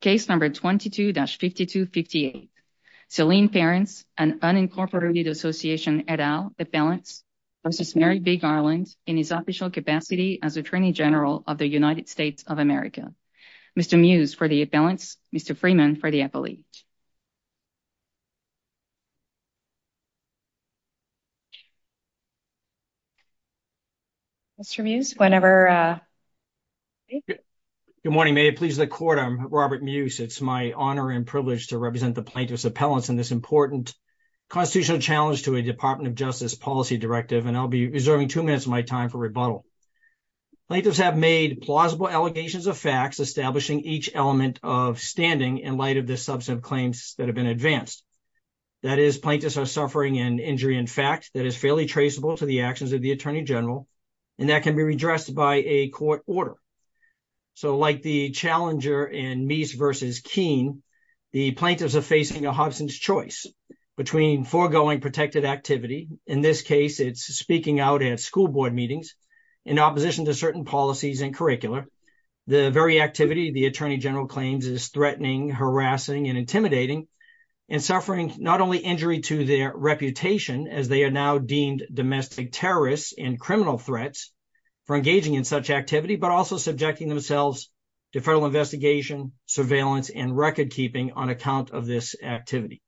case number 22-5258 Saline Parents an unincorporated association et al appellants v. Merrick B. Garland in his official capacity as Attorney General of the United States of America. Mr. Mews for the appellants, Mr. Freeman for the court, I'm Robert Mews. It's my honor and privilege to represent the plaintiffs appellants in this important constitutional challenge to a Department of Justice policy directive and I'll be reserving two minutes of my time for rebuttal. Plaintiffs have made plausible allegations of facts establishing each element of standing in light of the substantive claims that have been advanced. That is, plaintiffs are suffering an injury in fact that is fairly traceable to the actions of the Attorney General and that can be addressed by a court order. So like the challenger in Meese v. Keene, the plaintiffs are facing a Hobson's choice between foregoing protected activity, in this case it's speaking out at school board meetings, in opposition to certain policies and curricula. The very activity the Attorney General claims is threatening, harassing, and intimidating and suffering not only injury to their reputation as they are now deemed domestic terrorists and criminal threats for engaging in such activity but also subjecting themselves to federal investigation, surveillance, and record-keeping on account of this activity.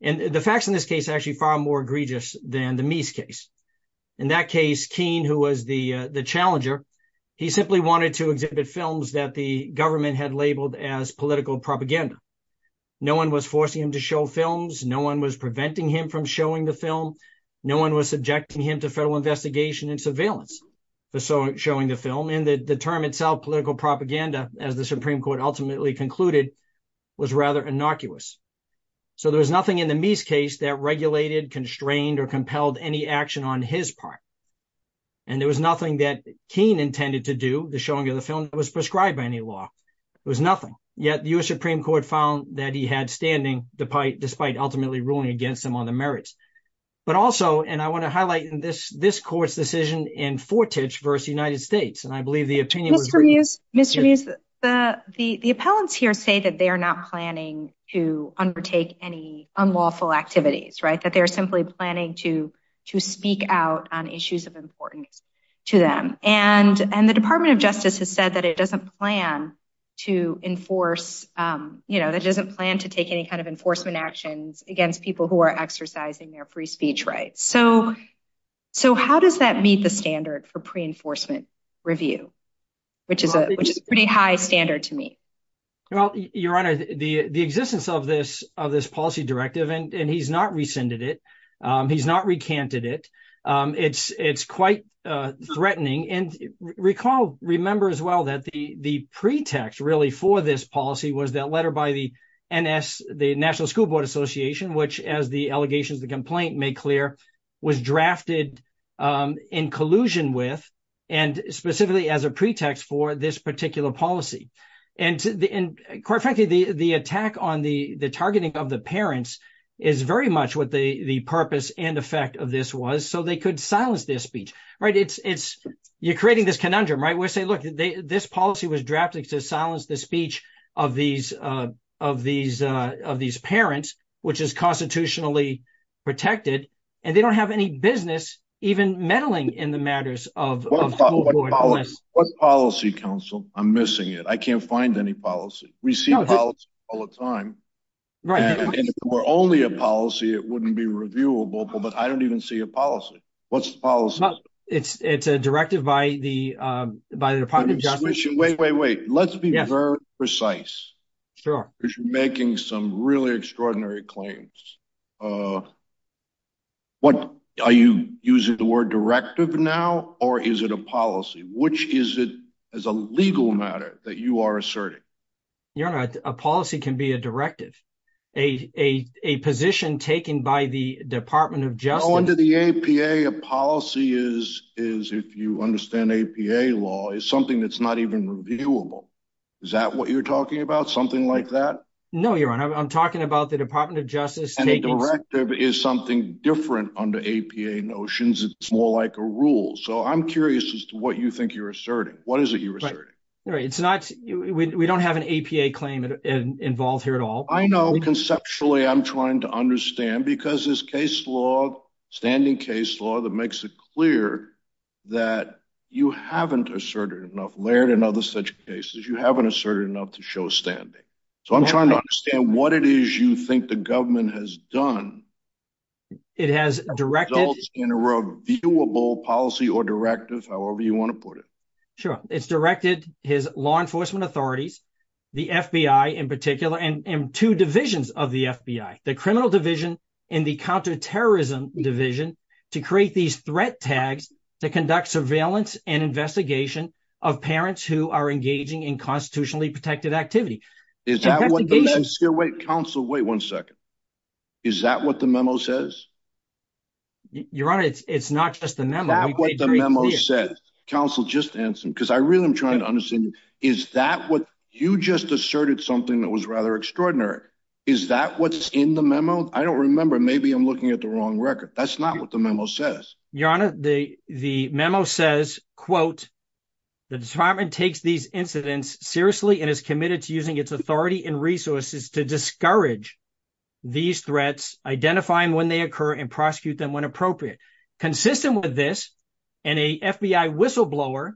And the facts in this case actually far more egregious than the Meese case. In that case Keene, who was the the challenger, he simply wanted to exhibit films that the government had labeled as political propaganda. No one was forcing him to show films, no one was preventing him from showing the film, no one was subjecting him to federal investigation and surveillance for showing the film. And the term itself, political propaganda, as the Supreme Court ultimately concluded, was rather innocuous. So there was nothing in the Meese case that regulated, constrained, or compelled any action on his part. And there was nothing that Keene intended to do, the showing of the film, that was prescribed by any law. It was nothing. Yet the US Supreme Court found that he had standing despite ultimately ruling against him on the merits. But also, and I want to highlight in this, this court's decision in Fortich versus the United States, and I believe the opinion... Mr. Meese, the appellants here say that they are not planning to undertake any unlawful activities, right? That they are simply planning to to speak out on issues of importance to them. And the Department of Justice has said that it doesn't plan to enforce, you know, that doesn't plan to take any kind of enforcement actions against people who are exercising their free speech rights. So how does that meet the standard for pre-enforcement review, which is a pretty high standard to meet? Well, Your Honor, the existence of this policy directive, and he's not rescinded it, he's not recanted it, it's quite threatening. And recall, remember as well, that the pretext really for this policy was that letter by the NS, the allegations, the complaint made clear, was drafted in collusion with, and specifically as a pretext for, this particular policy. And quite frankly, the attack on the targeting of the parents is very much what the purpose and effect of this was, so they could silence their speech, right? You're creating this conundrum, right? We're saying, look, this policy was drafted to silence the speech of these parents, which is constitutionally protected, and they don't have any business even meddling in the matters of... What policy, counsel? I'm missing it. I can't find any policy. We see policies all the time, and if it were only a policy, it wouldn't be reviewable, but I don't even see a policy. What's the policy? It's a directive by the Department of Justice... Wait, wait, wait, let's be very precise. Sure. You're making some really extraordinary claims. Are you using the word directive now, or is it a policy? Which is it, as a legal matter, that you are asserting? Your Honor, a policy can be a directive. A position taken by the Department of Justice... No, under the APA, a policy is, if you understand APA law, is something that's not even reviewable. Is that what you're talking about? Something like that? No, Your Honor, I'm talking about the Department of Justice taking... And a directive is something different under APA notions. It's more like a rule, so I'm curious as to what you think you're asserting. What is it you're asserting? Right. It's not... We don't have an APA claim involved here at all. I know. Conceptually, I'm trying to understand, because this case law, standing case law, that makes it clear that you haven't asserted enough, layered in other such cases, you haven't asserted enough to show standing. So I'm trying to understand what it is you think the government has done... It has directed... In a reviewable policy or directive, however you want to put it. Sure. It's directed his law enforcement authorities, the FBI in particular, and two divisions of the FBI, the criminal division and the counterterrorism division, to create these threat tags to conduct surveillance and investigation of parents who are engaging in constitutionally protected activity. Is that what the memo... Wait, Counsel, wait one second. Is that what the memo says? Your Honor, it's not just the memo. Is that what the memo says? Counsel, just answer him, because I really am trying to understand. Is that what... You just asserted something that was rather extraordinary. Is that what's in the memo? I don't remember. Maybe I'm looking at the wrong record. That's not what the memo says. Your Honor, the memo says, quote, the department takes these incidents seriously and is committed to using its authority and resources to discourage these threats, identifying when they occur, and prosecute them when appropriate. Consistent with this, and a FBI whistleblower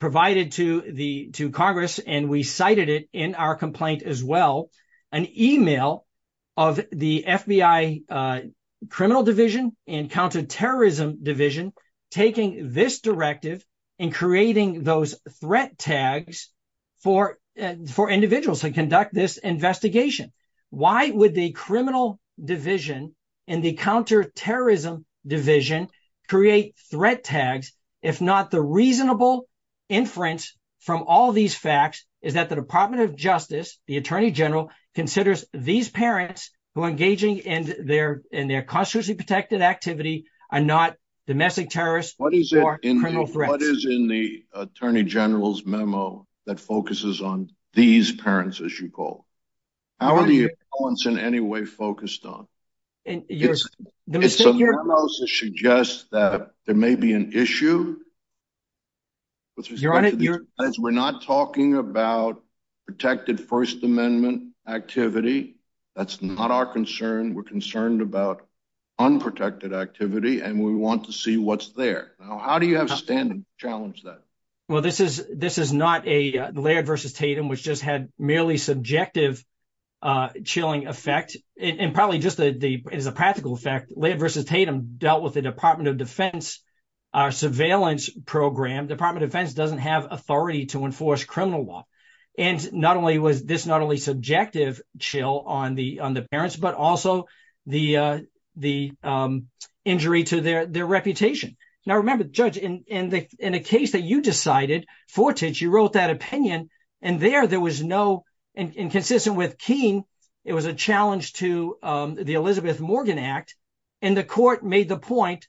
provided to Congress, and we cited it in our complaint as well, an email of the FBI criminal division and counterterrorism division taking this directive and creating those threat tags for individuals to conduct this investigation. Why would the criminal division and the counterterrorism division create threat tags if not the reasonable inference from all these facts is that the Department of Justice, the Attorney General, considers these parents who are engaging in their constitutionally protected activity are not domestic terrorists or criminal threats? What is in the Attorney General's memo that focuses on these parents, as you call them? How are the accounts in any way focused on? It's a memo that suggests that there may be an issue. We're not talking about protected First Amendment activity. That's not our concern. We're concerned about unprotected activity, and we want to see what's there. How do you have standing to challenge that? Well, this is not a Laird v. Tatum, which just had merely subjective chilling effect. It's a practical effect. Laird v. Tatum dealt with the Department of Defense surveillance program. Department of Defense doesn't have authority to enforce criminal law. Not only was this subjective chill on the parents, but also the injury to their reputation. Now, remember, Judge, in a case that you decided, Fortich, you wrote that opinion, and there there was no, and consistent with Keene, it was a challenge to the Elizabeth Morgan Act, and the court made the point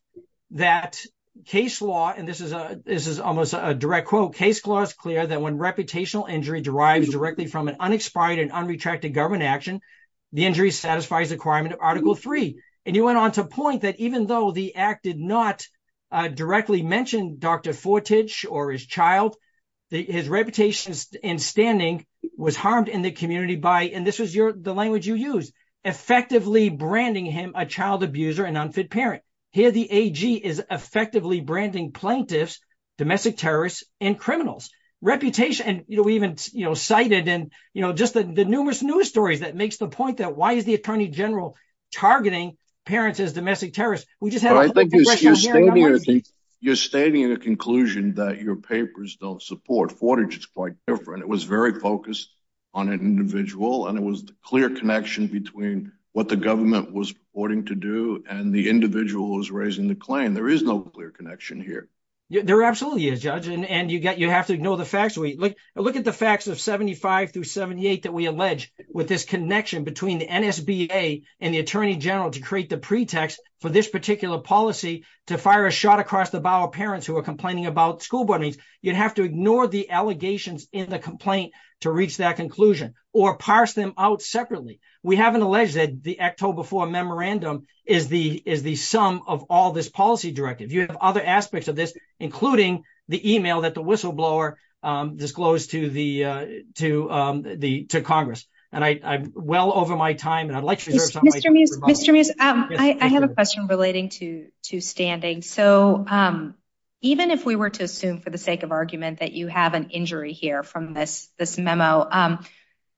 that case law, and this is almost a direct quote, that when reputational injury derives directly from an unexpired and unretracted government action, the injury satisfies the requirement of Article III. And you went on to point that even though the act did not directly mention Dr. Fortich or his child, his reputation and standing was harmed in the community by, and this was the language you used, effectively branding him a child abuser and unfit parent. Here the AG is effectively branding plaintiffs, domestic terrorists, and criminals. Reputation, and we even cited, and just the numerous news stories that makes the point that why is the Attorney General targeting parents as domestic terrorists? You're stating a conclusion that your papers don't support. Fortich is quite different. It was very focused on an individual, and it was the clear connection between what the government was reporting to do, and the individual was raising the claim. There is no clear connection here. There absolutely is, Judge, and you have to ignore the facts. Look at the facts of 75 through 78 that we allege with this connection between the NSBA and the Attorney General to create the pretext for this particular policy to fire a shot across the bow of parents who are complaining about school board meetings. You'd have to ignore the allegations in the complaint to reach that conclusion or parse them out separately. We haven't alleged that the October 4 memorandum is the sum of all this policy directive. You have other aspects of this, including the email that the whistleblower disclosed to Congress, and I'm well over my time, and I'd like to reserve some of my time. Mr. Mews, I have a question relating to standing. Even if we were to assume for the sake of argument that you have an injury here from this memo,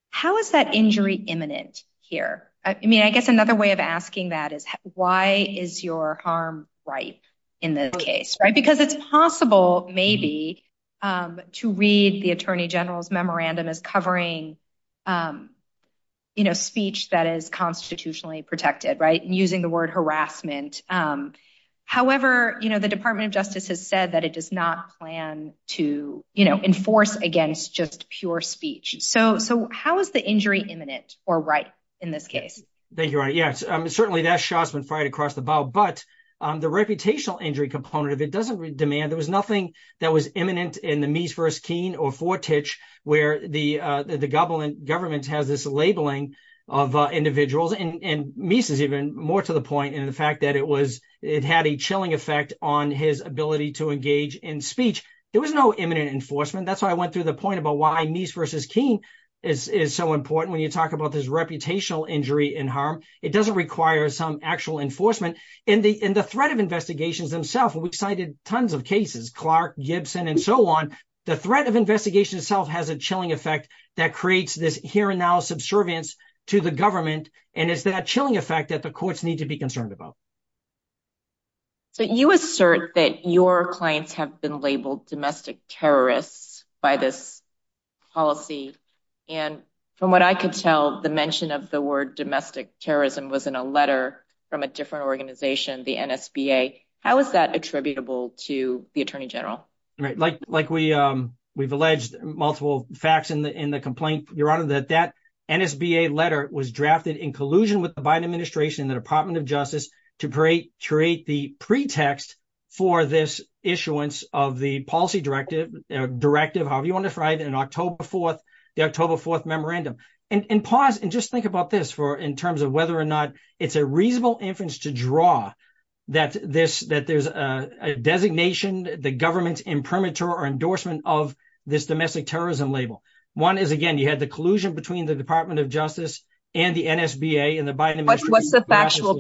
how is that injury imminent here? I guess another way of asking that is, why is your harm ripe in this case? Because it's possible, maybe, to read the Attorney General's memorandum as covering speech that is constitutionally protected and using the word harassment. However, the Department of Justice has said that it does not plan to enforce against just pure speech. How is the injury imminent or ripe in this case? Thank you, Ronnie. Yes, certainly that shot's been fired across the bow, but the reputational injury component, if it doesn't demand, there was nothing that was imminent in the Meese v. Keene or Fortich, where the government has this labeling of individuals, and Meese is even more to the point in the fact that it had a chilling effect on his ability to engage in speech. There was no imminent enforcement. That's why I went through the point about why reputational injury and harm, it doesn't require some actual enforcement. In the threat of investigations themselves, we've cited tons of cases, Clark, Gibson, and so on. The threat of investigation itself has a chilling effect that creates this here and now subservience to the government, and it's that chilling effect that the courts need to be concerned about. So you assert that your clients have been labeled domestic terrorists by this policy, and from what I could tell, the mention of the word domestic terrorism was in a letter from a different organization, the NSBA. How is that attributable to the Attorney General? Like we've alleged multiple facts in the complaint, Your Honor, that NSBA letter was drafted in collusion with the Biden administration and the Department of Justice to create the pretext for this issuance of the policy directive, however you want to define it, in the October 4th memorandum. And pause and just think about this in terms of whether or not it's a reasonable inference to draw that there's a designation, the government's imprimatur or endorsement of this domestic terrorism label. One is, again, you had the collusion between the Department of Justice and the Department of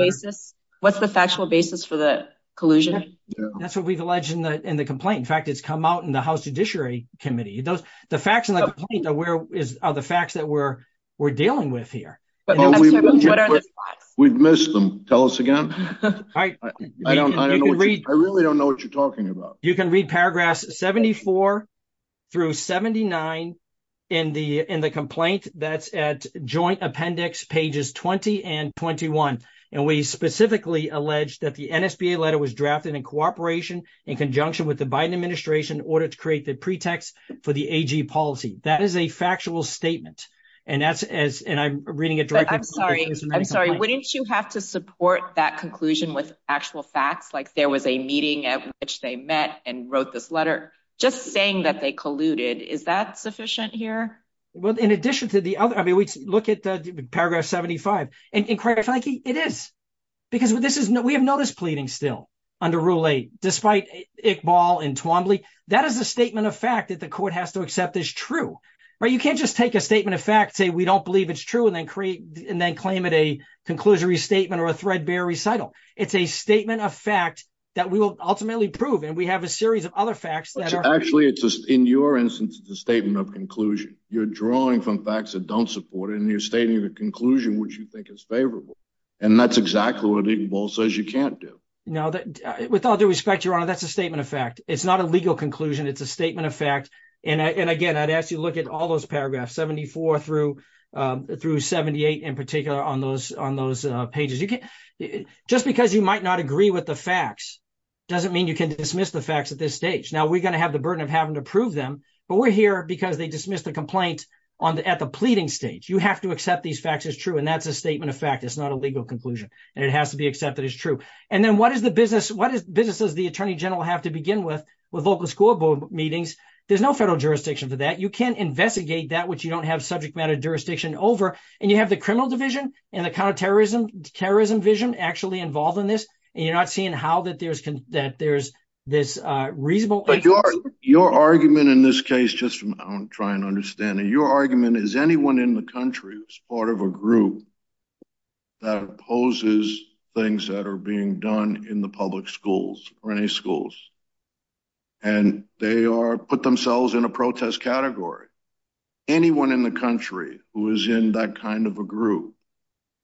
Justice. That's what we've alleged in the complaint. In fact, it's come out in the House Judiciary Committee. The facts in the complaint are the facts that we're dealing with here. We've missed them. Tell us again. I really don't know what you're talking about. You can read paragraphs 74 through 79 in the complaint that's at joint appendix pages 20 and 21. And we specifically allege that the NSBA letter was drafted in cooperation in conjunction with the Biden administration in order to create the pretext for the AG policy. That is a factual statement. And that's as, and I'm reading it directly. I'm sorry. I'm sorry. Wouldn't you have to support that conclusion with actual facts? Like there was a meeting at which they met and wrote this letter just saying that they colluded. Is that sufficient here? Well, in addition to the look at the paragraph 75. And quite frankly, it is. Because we have notice pleading still under Rule 8, despite Iqbal and Twombly. That is a statement of fact that the court has to accept is true. You can't just take a statement of fact, say we don't believe it's true, and then claim it a conclusory statement or a threadbare recital. It's a statement of fact that we will ultimately prove. And we have a series of other facts that are- Actually, in your instance, the statement of conclusion, you're drawing from facts that don't support it. And you're stating the conclusion, which you think is favorable. And that's exactly what Iqbal says you can't do. No, with all due respect, Your Honor, that's a statement of fact. It's not a legal conclusion. It's a statement of fact. And again, I'd ask you to look at all those paragraphs, 74 through 78 in particular on those pages. Just because you might not agree with the facts, doesn't mean you can dismiss the facts at this stage. Now we're going to have the burden of having to prove them. But we're here because they dismissed the complaint at the pleading stage. You have to accept these facts as true. And that's a statement of fact. It's not a legal conclusion. And it has to be accepted as true. And then what is the business? What is businesses the attorney general have to begin with local school board meetings? There's no federal jurisdiction for that. You can't investigate that which you don't have subject matter jurisdiction over. And you have the criminal division and the counterterrorism, terrorism vision actually involved in this. And you're not seeing how that there's this reasonable- Your argument in this case, just I'm trying to understand, your argument is anyone in the country who's part of a group that opposes things that are being done in the public schools or any schools, and they are put themselves in a protest category. Anyone in the country who is in that kind of a group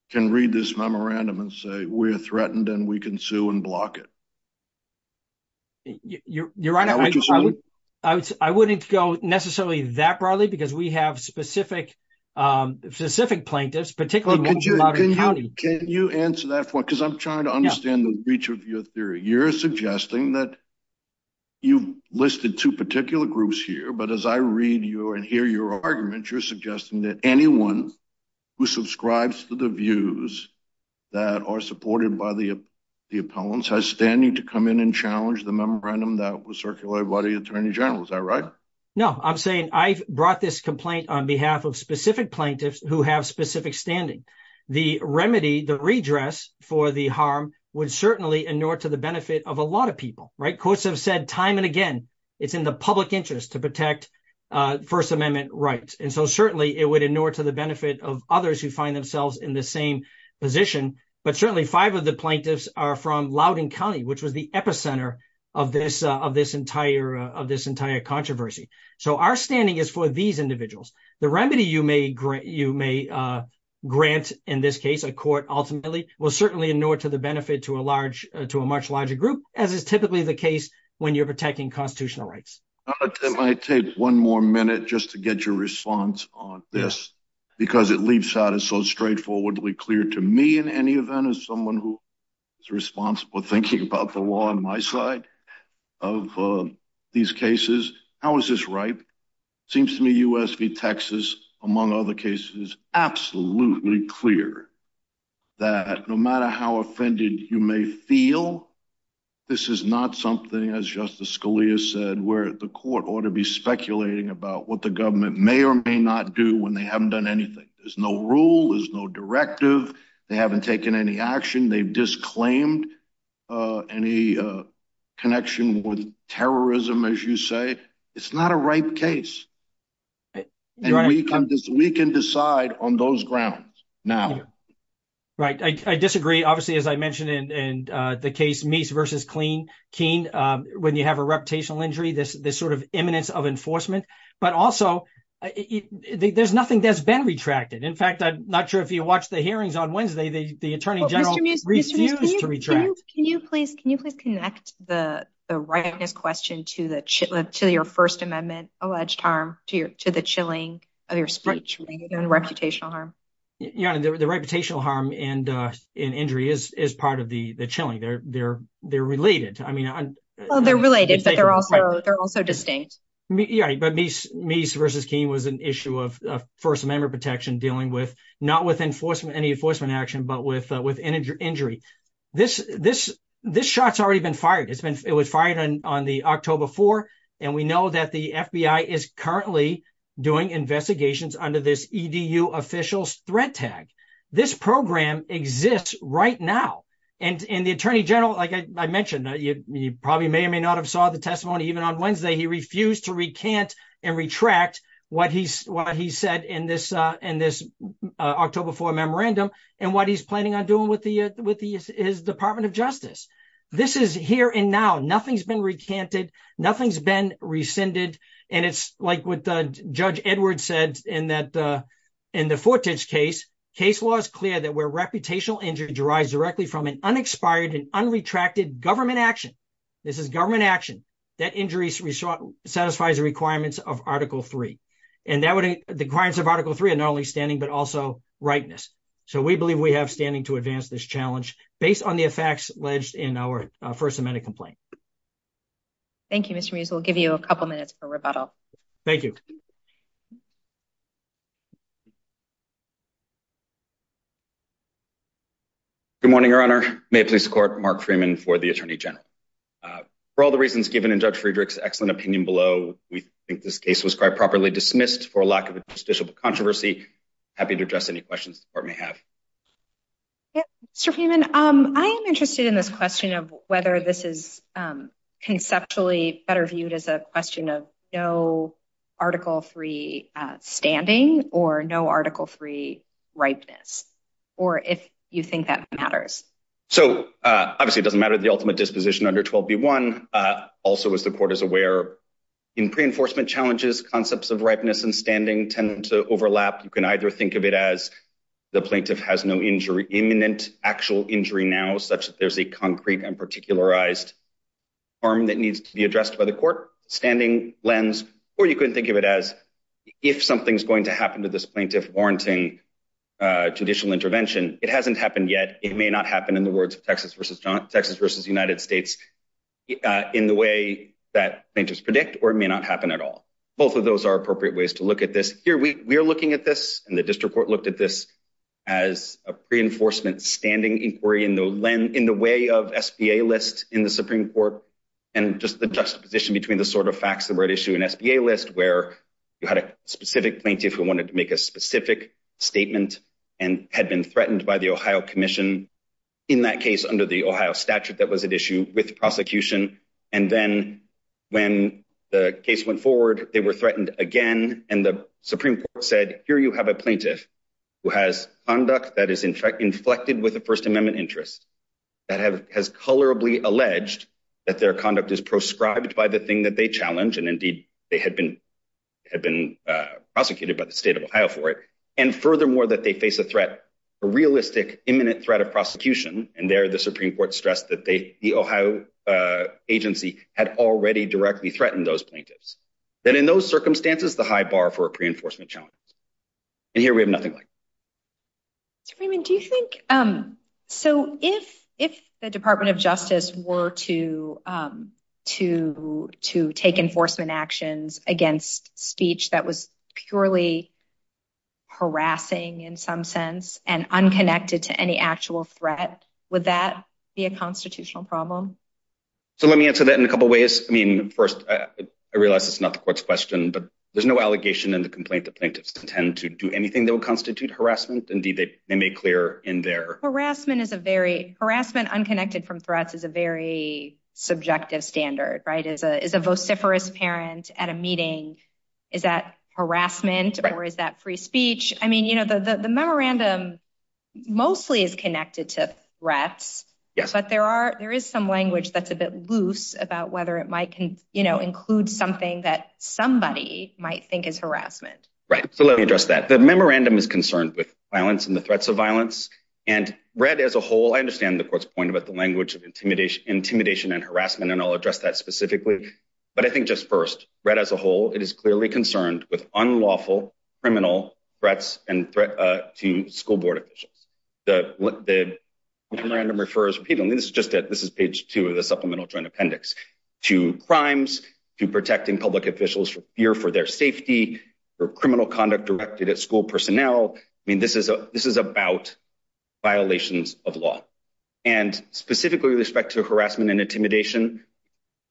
can read this memorandum and say, we are threatened and we can sue and block it. You're right. I wouldn't go necessarily that broadly because we have specific plaintiffs, particularly- Can you answer that for me? Because I'm trying to understand the reach of your theory. You're suggesting that you've listed two particular groups here. But as I read you and hear your argument, you're suggesting that anyone who subscribes to the views that are supported by the opponents has standing to come in and challenge the memorandum that was circulated by the Attorney General. Is that right? No, I'm saying I've brought this complaint on behalf of specific plaintiffs who have specific standing. The remedy, the redress for the harm would certainly inure to the benefit of a lot of people, right? Courts have said time and again, it's in the public interest to protect First Amendment rights. And so certainly it would inure to the benefit of others who find themselves in the same position. But certainly five of the plaintiffs are from Loudoun County, which was the epicenter of this entire controversy. So our standing is for these individuals. The remedy you may grant in this case, a court ultimately, will certainly inure to the benefit to a much larger group, as is typically the case when you're protecting constitutional rights. It might take one more minute just to get your response on this because it leaves out as so straightforwardly clear to me in any event as someone who is responsible for thinking about the law on my side of these cases, how is this right? It seems to me U.S. v. Texas, among other cases, is absolutely clear that no matter how offended you may feel, this is not something, as Justice Scalia said, where the court ought to be speculating about what the government may or may not do when they haven't taken any action, they've disclaimed any connection with terrorism, as you say. It's not a ripe case. And we can decide on those grounds now. Right. I disagree. Obviously, as I mentioned in the case Meese v. Keene, when you have a reputational injury, this sort of imminence of enforcement, but also there's nothing that's the attorney general refused to retract. Mr. Meese, can you please connect the ripeness question to your First Amendment-alleged harm, to the chilling of your speech and reputational harm? Your Honor, the reputational harm and injury is part of the chilling. They're related. They're related, but they're also distinct. Meese v. Keene was an issue of First Amendment protection dealing with any enforcement action, but with injury. This shot's already been fired. It was fired on the October 4th. And we know that the FBI is currently doing investigations under this EDU officials threat tag. This program exists right now. And the attorney general, like I mentioned, you probably may or may not have saw the testimony, even on Wednesday, he refused to rescind the October 4th memorandum and what he's planning on doing with his Department of Justice. This is here and now. Nothing's been recanted. Nothing's been rescinded. And it's like what Judge Edwards said in the Fortich case, case law is clear that where reputational injury derives directly from an unexpired and unretracted government action, this is government action, that injury satisfies the requirements of Article 3. And the requirements of Article 3 are not only but also rightness. So we believe we have standing to advance this challenge based on the effects alleged in our First Amendment complaint. Thank you, Mr. Meese. We'll give you a couple minutes for rebuttal. Thank you. Good morning, Your Honor. May it please the Court, Mark Freeman for the Attorney General. For all the reasons given in Judge Friedrich's excellent opinion below, we think this case was quite properly dismissed for lack of a judicial controversy. Happy to address any questions the Court may have. Mr. Freeman, I am interested in this question of whether this is conceptually better viewed as a question of no Article 3 standing or no Article 3 ripeness, or if you think that matters. So obviously it doesn't matter the ultimate disposition under 12B1. Also, as the Court is aware, in pre-enforcement challenges, concepts of ripeness and standing tend to overlap. You can either think of it as the plaintiff has no imminent actual injury now, such that there's a concrete and particularized harm that needs to be addressed by the Court standing lens, or you can think of it as if something's going to happen to this plaintiff warranting judicial intervention, it hasn't happened yet. It may not happen in the United States in the way that plaintiffs predict, or it may not happen at all. Both of those are appropriate ways to look at this. Here we are looking at this, and the District Court looked at this as a pre-enforcement standing inquiry in the way of SBA list in the Supreme Court, and just the juxtaposition between the sort of facts that were at issue in SBA list, where you had a specific plaintiff who wanted to make a specific statement and had been threatened by the Ohio Commission, in that case under the Ohio statute that was at issue with the prosecution, and then when the case went forward, they were threatened again, and the Supreme Court said, here you have a plaintiff who has conduct that is inflected with a First Amendment interest, that has colorably alleged that their conduct is proscribed by the thing that they challenge, and indeed, they had been prosecuted by the State of Ohio for it, and furthermore, they face a threat, a realistic imminent threat of prosecution, and there the Supreme Court stressed that the Ohio agency had already directly threatened those plaintiffs. Then in those circumstances, the high bar for a pre-enforcement challenge, and here we have nothing like it. Mr. Freeman, do you think, so if the Department of Justice were to take enforcement actions against speech that was purely harassing in some sense, and unconnected to any actual threat, would that be a constitutional problem? So let me answer that in a couple ways. I mean, first, I realize it's not the court's question, but there's no allegation in the complaint that plaintiffs intend to do anything that would constitute harassment. Indeed, they made clear in their- Is a vociferous parent at a meeting, is that harassment or is that free speech? I mean, the memorandum mostly is connected to threats, but there is some language that's a bit loose about whether it might include something that somebody might think is harassment. Right, so let me address that. The memorandum is concerned with violence and the threats of violence, and read as a whole, I understand the court's point about the language of but I think just first, read as a whole, it is clearly concerned with unlawful criminal threats and threat to school board officials. The memorandum refers repeatedly, this is just it, this is page two of the Supplemental Joint Appendix, to crimes, to protecting public officials for fear for their safety, for criminal conduct directed at school personnel. I mean, this is about violations of law. And specifically with respect to harassment and intimidation,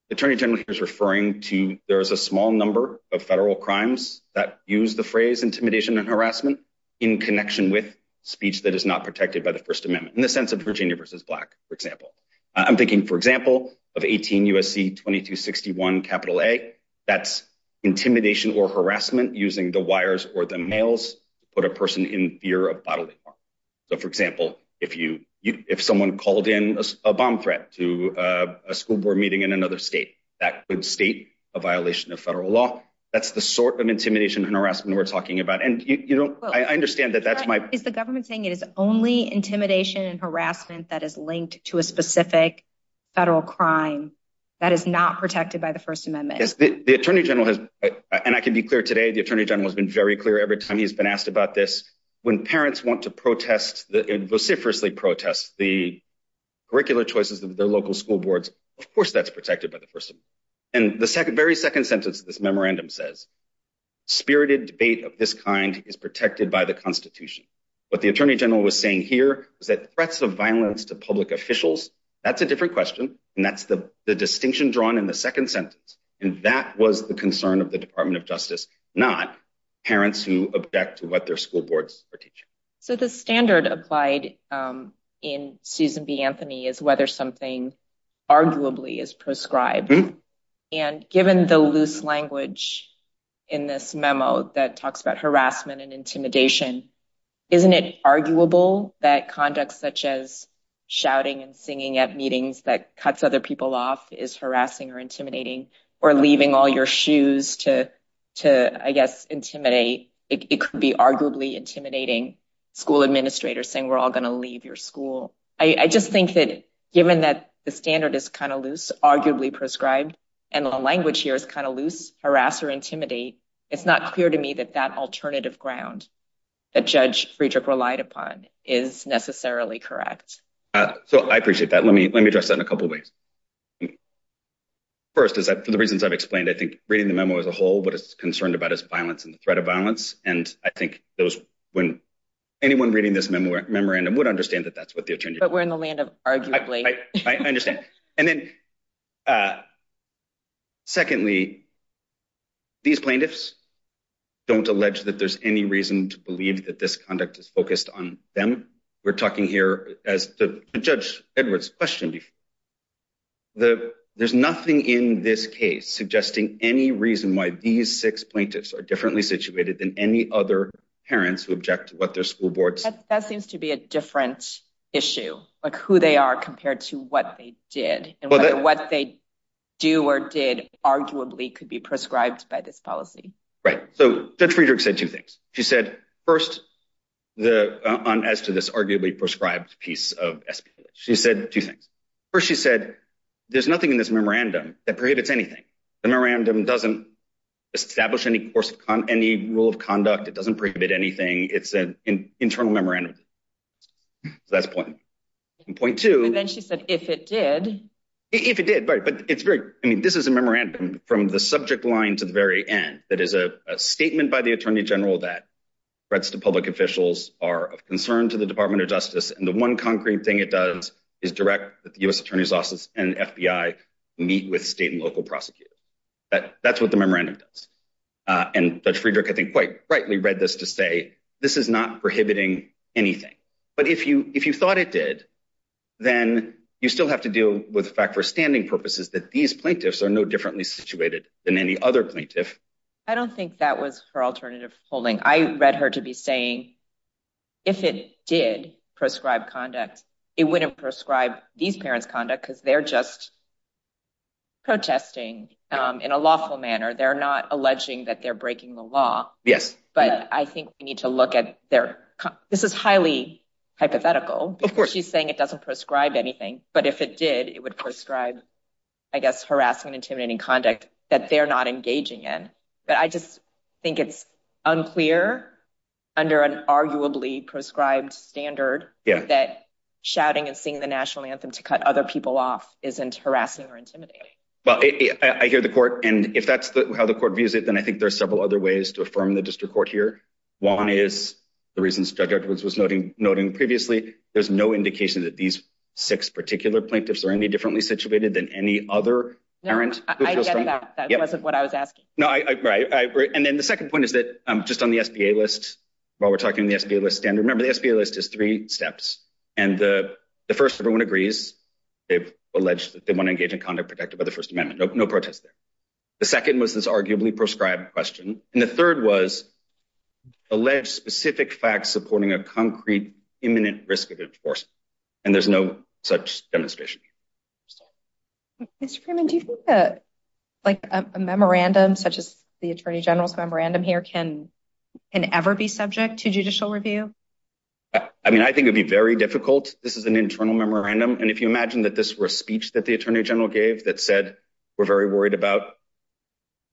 the Attorney General is referring to there is a small number of federal crimes that use the phrase intimidation and harassment in connection with speech that is not protected by the First Amendment, in the sense of Virginia versus Black, for example. I'm thinking, for example, of 18 U.S.C. 2261 A, that's intimidation or harassment using the wires or the mails to put a person in fear of bodily harm. So, for example, if you, if someone called in a bomb threat to a school board meeting in another state, that could state a violation of federal law. That's the sort of intimidation and harassment we're talking about. And you know, I understand that that's my- Is the government saying it is only intimidation and harassment that is linked to a specific federal crime that is not protected by the First Amendment? Yes, the Attorney General has, and I can be clear today, the Attorney General has been very clear every time he's been asked about this. When parents want to protest and vociferously protest the curricular choices of their local school boards, of course that's protected by the First Amendment. And the second, very second sentence of this memorandum says, spirited debate of this kind is protected by the Constitution. What the Attorney General was saying here was that threats of violence to public officials, that's a different question, and that's the distinction drawn in the second sentence. And that was the concern of the Department of Justice, not parents who object to what their school boards are teaching. So the standard applied in Susan B. Anthony is whether something arguably is proscribed. And given the loose language in this memo that talks about harassment and intimidation, isn't it arguable that conduct such as shouting and singing at meetings that cuts other people off is harassing or intimidating, or leaving all your shoes to, I guess, intimidate? It could be school administrators saying we're all going to leave your school. I just think that given that the standard is kind of loose, arguably proscribed, and the language here is kind of loose, harass or intimidate, it's not clear to me that that alternative ground that Judge Friedrich relied upon is necessarily correct. So I appreciate that. Let me address that in a couple of ways. First, for the reasons I've explained, I think reading the memo as a whole, what it's concerned about is violence and the threat of violence. And I think when anyone reading this memorandum would understand that that's what the alternative is. But we're in the land of arguably. I understand. And then secondly, these plaintiffs don't allege that there's any reason to believe that this conduct is focused on them. We're talking here, as to Judge Edwards' question, there's nothing in this case suggesting any reason why these six plaintiffs are differently situated than any other parents who object to what their school boards. That seems to be a different issue, like who they are compared to what they did, and whether what they do or did arguably could be proscribed by this policy. Right. So Judge Friedrich said two things. She said first, as to this arguably proscribed piece of SPLH. She said two things. First, she said there's nothing in this memorandum that prohibits anything. The memorandum doesn't establish any course of any rule of conduct. It doesn't prohibit anything. It's an internal memorandum. So that's point one. And point two. And then she said, if it did. If it did, right. But it's very, I mean, this is a memorandum from the subject line to the very end. That is a statement by the attorney general that threats to public officials are of concern to the Department of Justice, and the one concrete thing it does is direct that the U.S. Attorney's Office and FBI meet with state and local prosecutors. That's what the memorandum does. And Judge Friedrich, I think, quite rightly read this to say, this is not prohibiting anything. But if you thought it did, then you still have to deal with the fact for standing purposes that these plaintiffs are no differently situated than any other plaintiff. I don't think that was her alternative holding. I read her to be saying, if it did prescribe conduct, it wouldn't prescribe these parents conduct because they're just protesting in a lawful manner. They're not alleging that they're breaking the law. Yes, but I think we need to look at their. This is highly hypothetical. Of course, she's saying it doesn't prescribe anything. But if it did, it would prescribe, I guess, harassing and intimidating conduct that they're not engaging in. But I just think it's unclear under an arguably prescribed standard that shouting and singing the national anthem to cut other people off isn't harassing or intimidating. Well, I hear the court. And if that's how the court views it, then I think there's several other ways to affirm the district court here. One is the reason Judge Edwards was noting previously, there's no indication that these six particular plaintiffs are any differently situated than any other parent. I get that. That wasn't what I was asking. No, I agree. And then the second point is that just on the SBA list, while we're talking the SBA list standard, remember, the SBA list is three steps. And the first, everyone agrees they've alleged that they want to engage in conduct protected by the First Amendment. No protest there. The second was this arguably prescribed question. And the third was alleged specific facts supporting a concrete, imminent risk of enforcement. And there's no such demonstration. Mr. Freeman, do you think that a memorandum such as the Attorney General's memorandum here can ever be subject to judicial review? I mean, I think it'd be very difficult. This is an internal memorandum. And if you imagine that this were a speech that the Attorney General gave that said, we're very worried about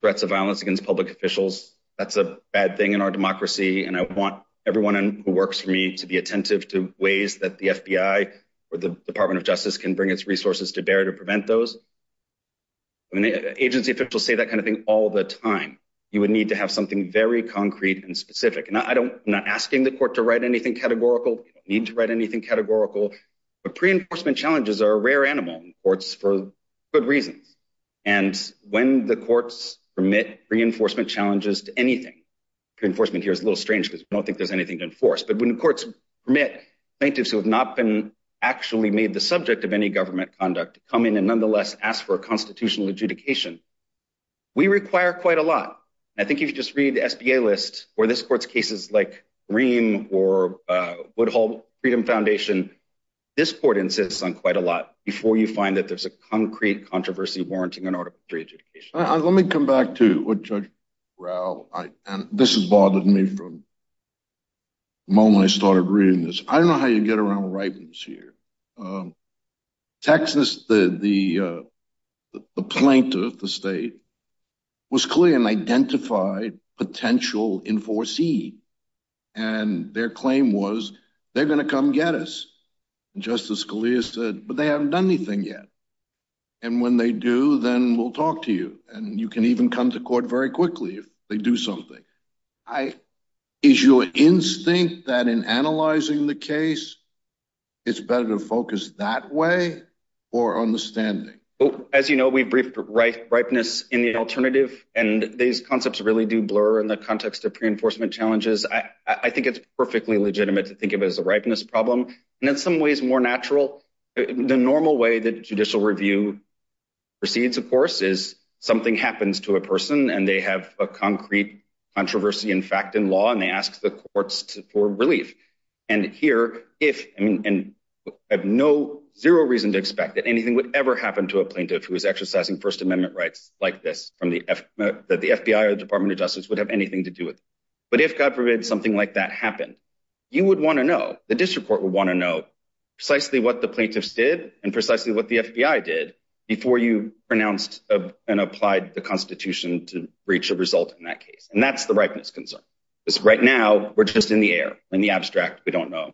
threats of violence against public officials, that's a bad thing in our democracy. And I want everyone who works for me to be attentive to ways that the FBI or the Department of Justice can bring its resources to bear to prevent those. I mean, agency officials say that kind of thing all the time. You would need to have something very concrete and specific. And I'm not asking the court to write anything categorical. You don't need to write anything categorical. But pre-enforcement challenges are a rare animal in courts for good reasons. And when the courts permit pre-enforcement challenges to anything, pre-enforcement here is a little strange because we don't think there's anything to enforce. But when courts permit plaintiffs who have not been made the subject of any government conduct to come in and nonetheless ask for a constitutional adjudication, we require quite a lot. I think if you just read the SBA list, where this court's cases like Ream or Woodhull Freedom Foundation, this court insists on quite a lot before you find that there's a concrete controversy warranting an article of pre-adjudication. Let me come back to what Judge Rao, and this has bothered me from the moment I started reading this. I don't know how you get around writings here. Texas, the plaintiff, the state, was clear and identified potential enforcee. And their claim was, they're going to come get us. Justice Scalia said, but they haven't done anything yet. And when they do, then we'll talk to you. And you can even come to court very quickly if they do something. Is your instinct that in analyzing the case, it's better to focus that way or on the standing? As you know, we've briefed ripeness in the alternative, and these concepts really do blur in the context of pre-enforcement challenges. I think it's perfectly legitimate to think of it as a ripeness problem. And in some ways, more natural. The normal way that judicial review proceeds, of course, is something happens to a person, and they have a concrete controversy, in fact, in law, and they ask the courts for relief. And here, I have no, zero reason to expect that anything would ever happen to a plaintiff who is exercising First Amendment rights like this, that the FBI or the Department of Justice would have anything to do with it. But if, God forbid, something like that happened, you would want to know. The district court would want to know precisely what the plaintiffs did and precisely what the FBI did before you pronounced and applied the Constitution to reach a result in that case. And that's the ripeness concern. Because right now, we're just in the air, in the abstract. We don't know.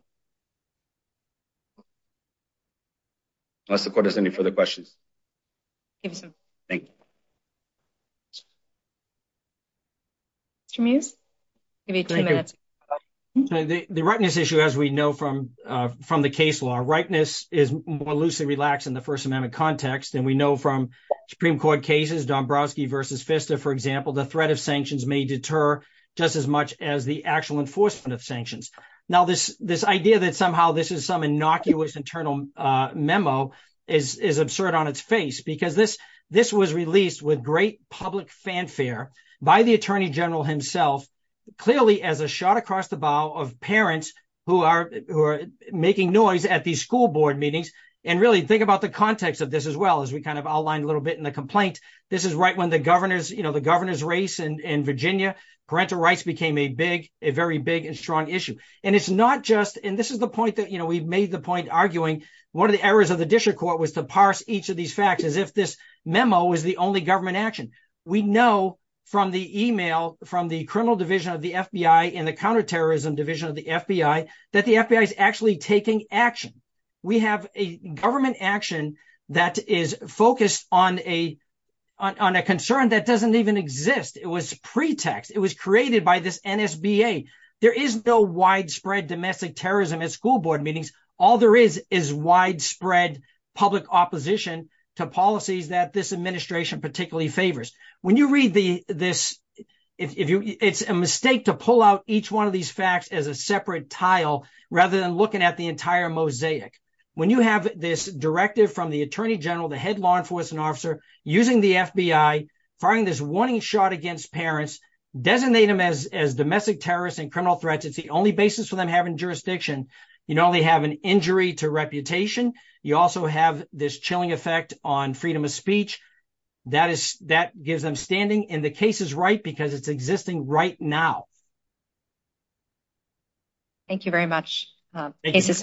Unless the court has any further questions. Mr. Mews? The ripeness issue, as we know from the case law, ripeness is more loosely relaxed in the First Amendment context. And we know from Supreme Court cases, Dombrowski v. FISTA, for example, the threat of sanctions may deter just as much as the actual enforcement of sanctions. Now, this idea that somehow this is some innocuous internal memo is absurd on its face, because this was released with great public fanfare by the Attorney General himself, clearly as a shot across the bow of parents who are making noise at these school board meetings. And really think about the context of this as well, as we kind of outlined a little bit in the complaint. This is right when the governor's race in Virginia, parental rights became a big, a very big and strong issue. And it's not just, and this is the point that we've made the point arguing, one of the errors of the district court was to parse each of these facts as if this memo is the only government action. We know from the email from the criminal division of the FBI and the counterterrorism division of the FBI, that the FBI is actually taking action. We have government action that is focused on a concern that doesn't even exist. It was pretext. It was created by this NSBA. There is no widespread domestic terrorism at school board meetings. All there is, is widespread public opposition to policies that this administration particularly favors. When you read this, it's a mistake to pull out each one of these facts as a separate tile, rather than looking at the entire mosaic. When you have this directive from the attorney general, the head law enforcement officer, using the FBI, firing this warning shot against parents, designate them as domestic terrorists and criminal threats. It's the only basis for them having jurisdiction. You not only have an injury to reputation, you also have this chilling effect on freedom of speech. That gives them standing and the case is right because it's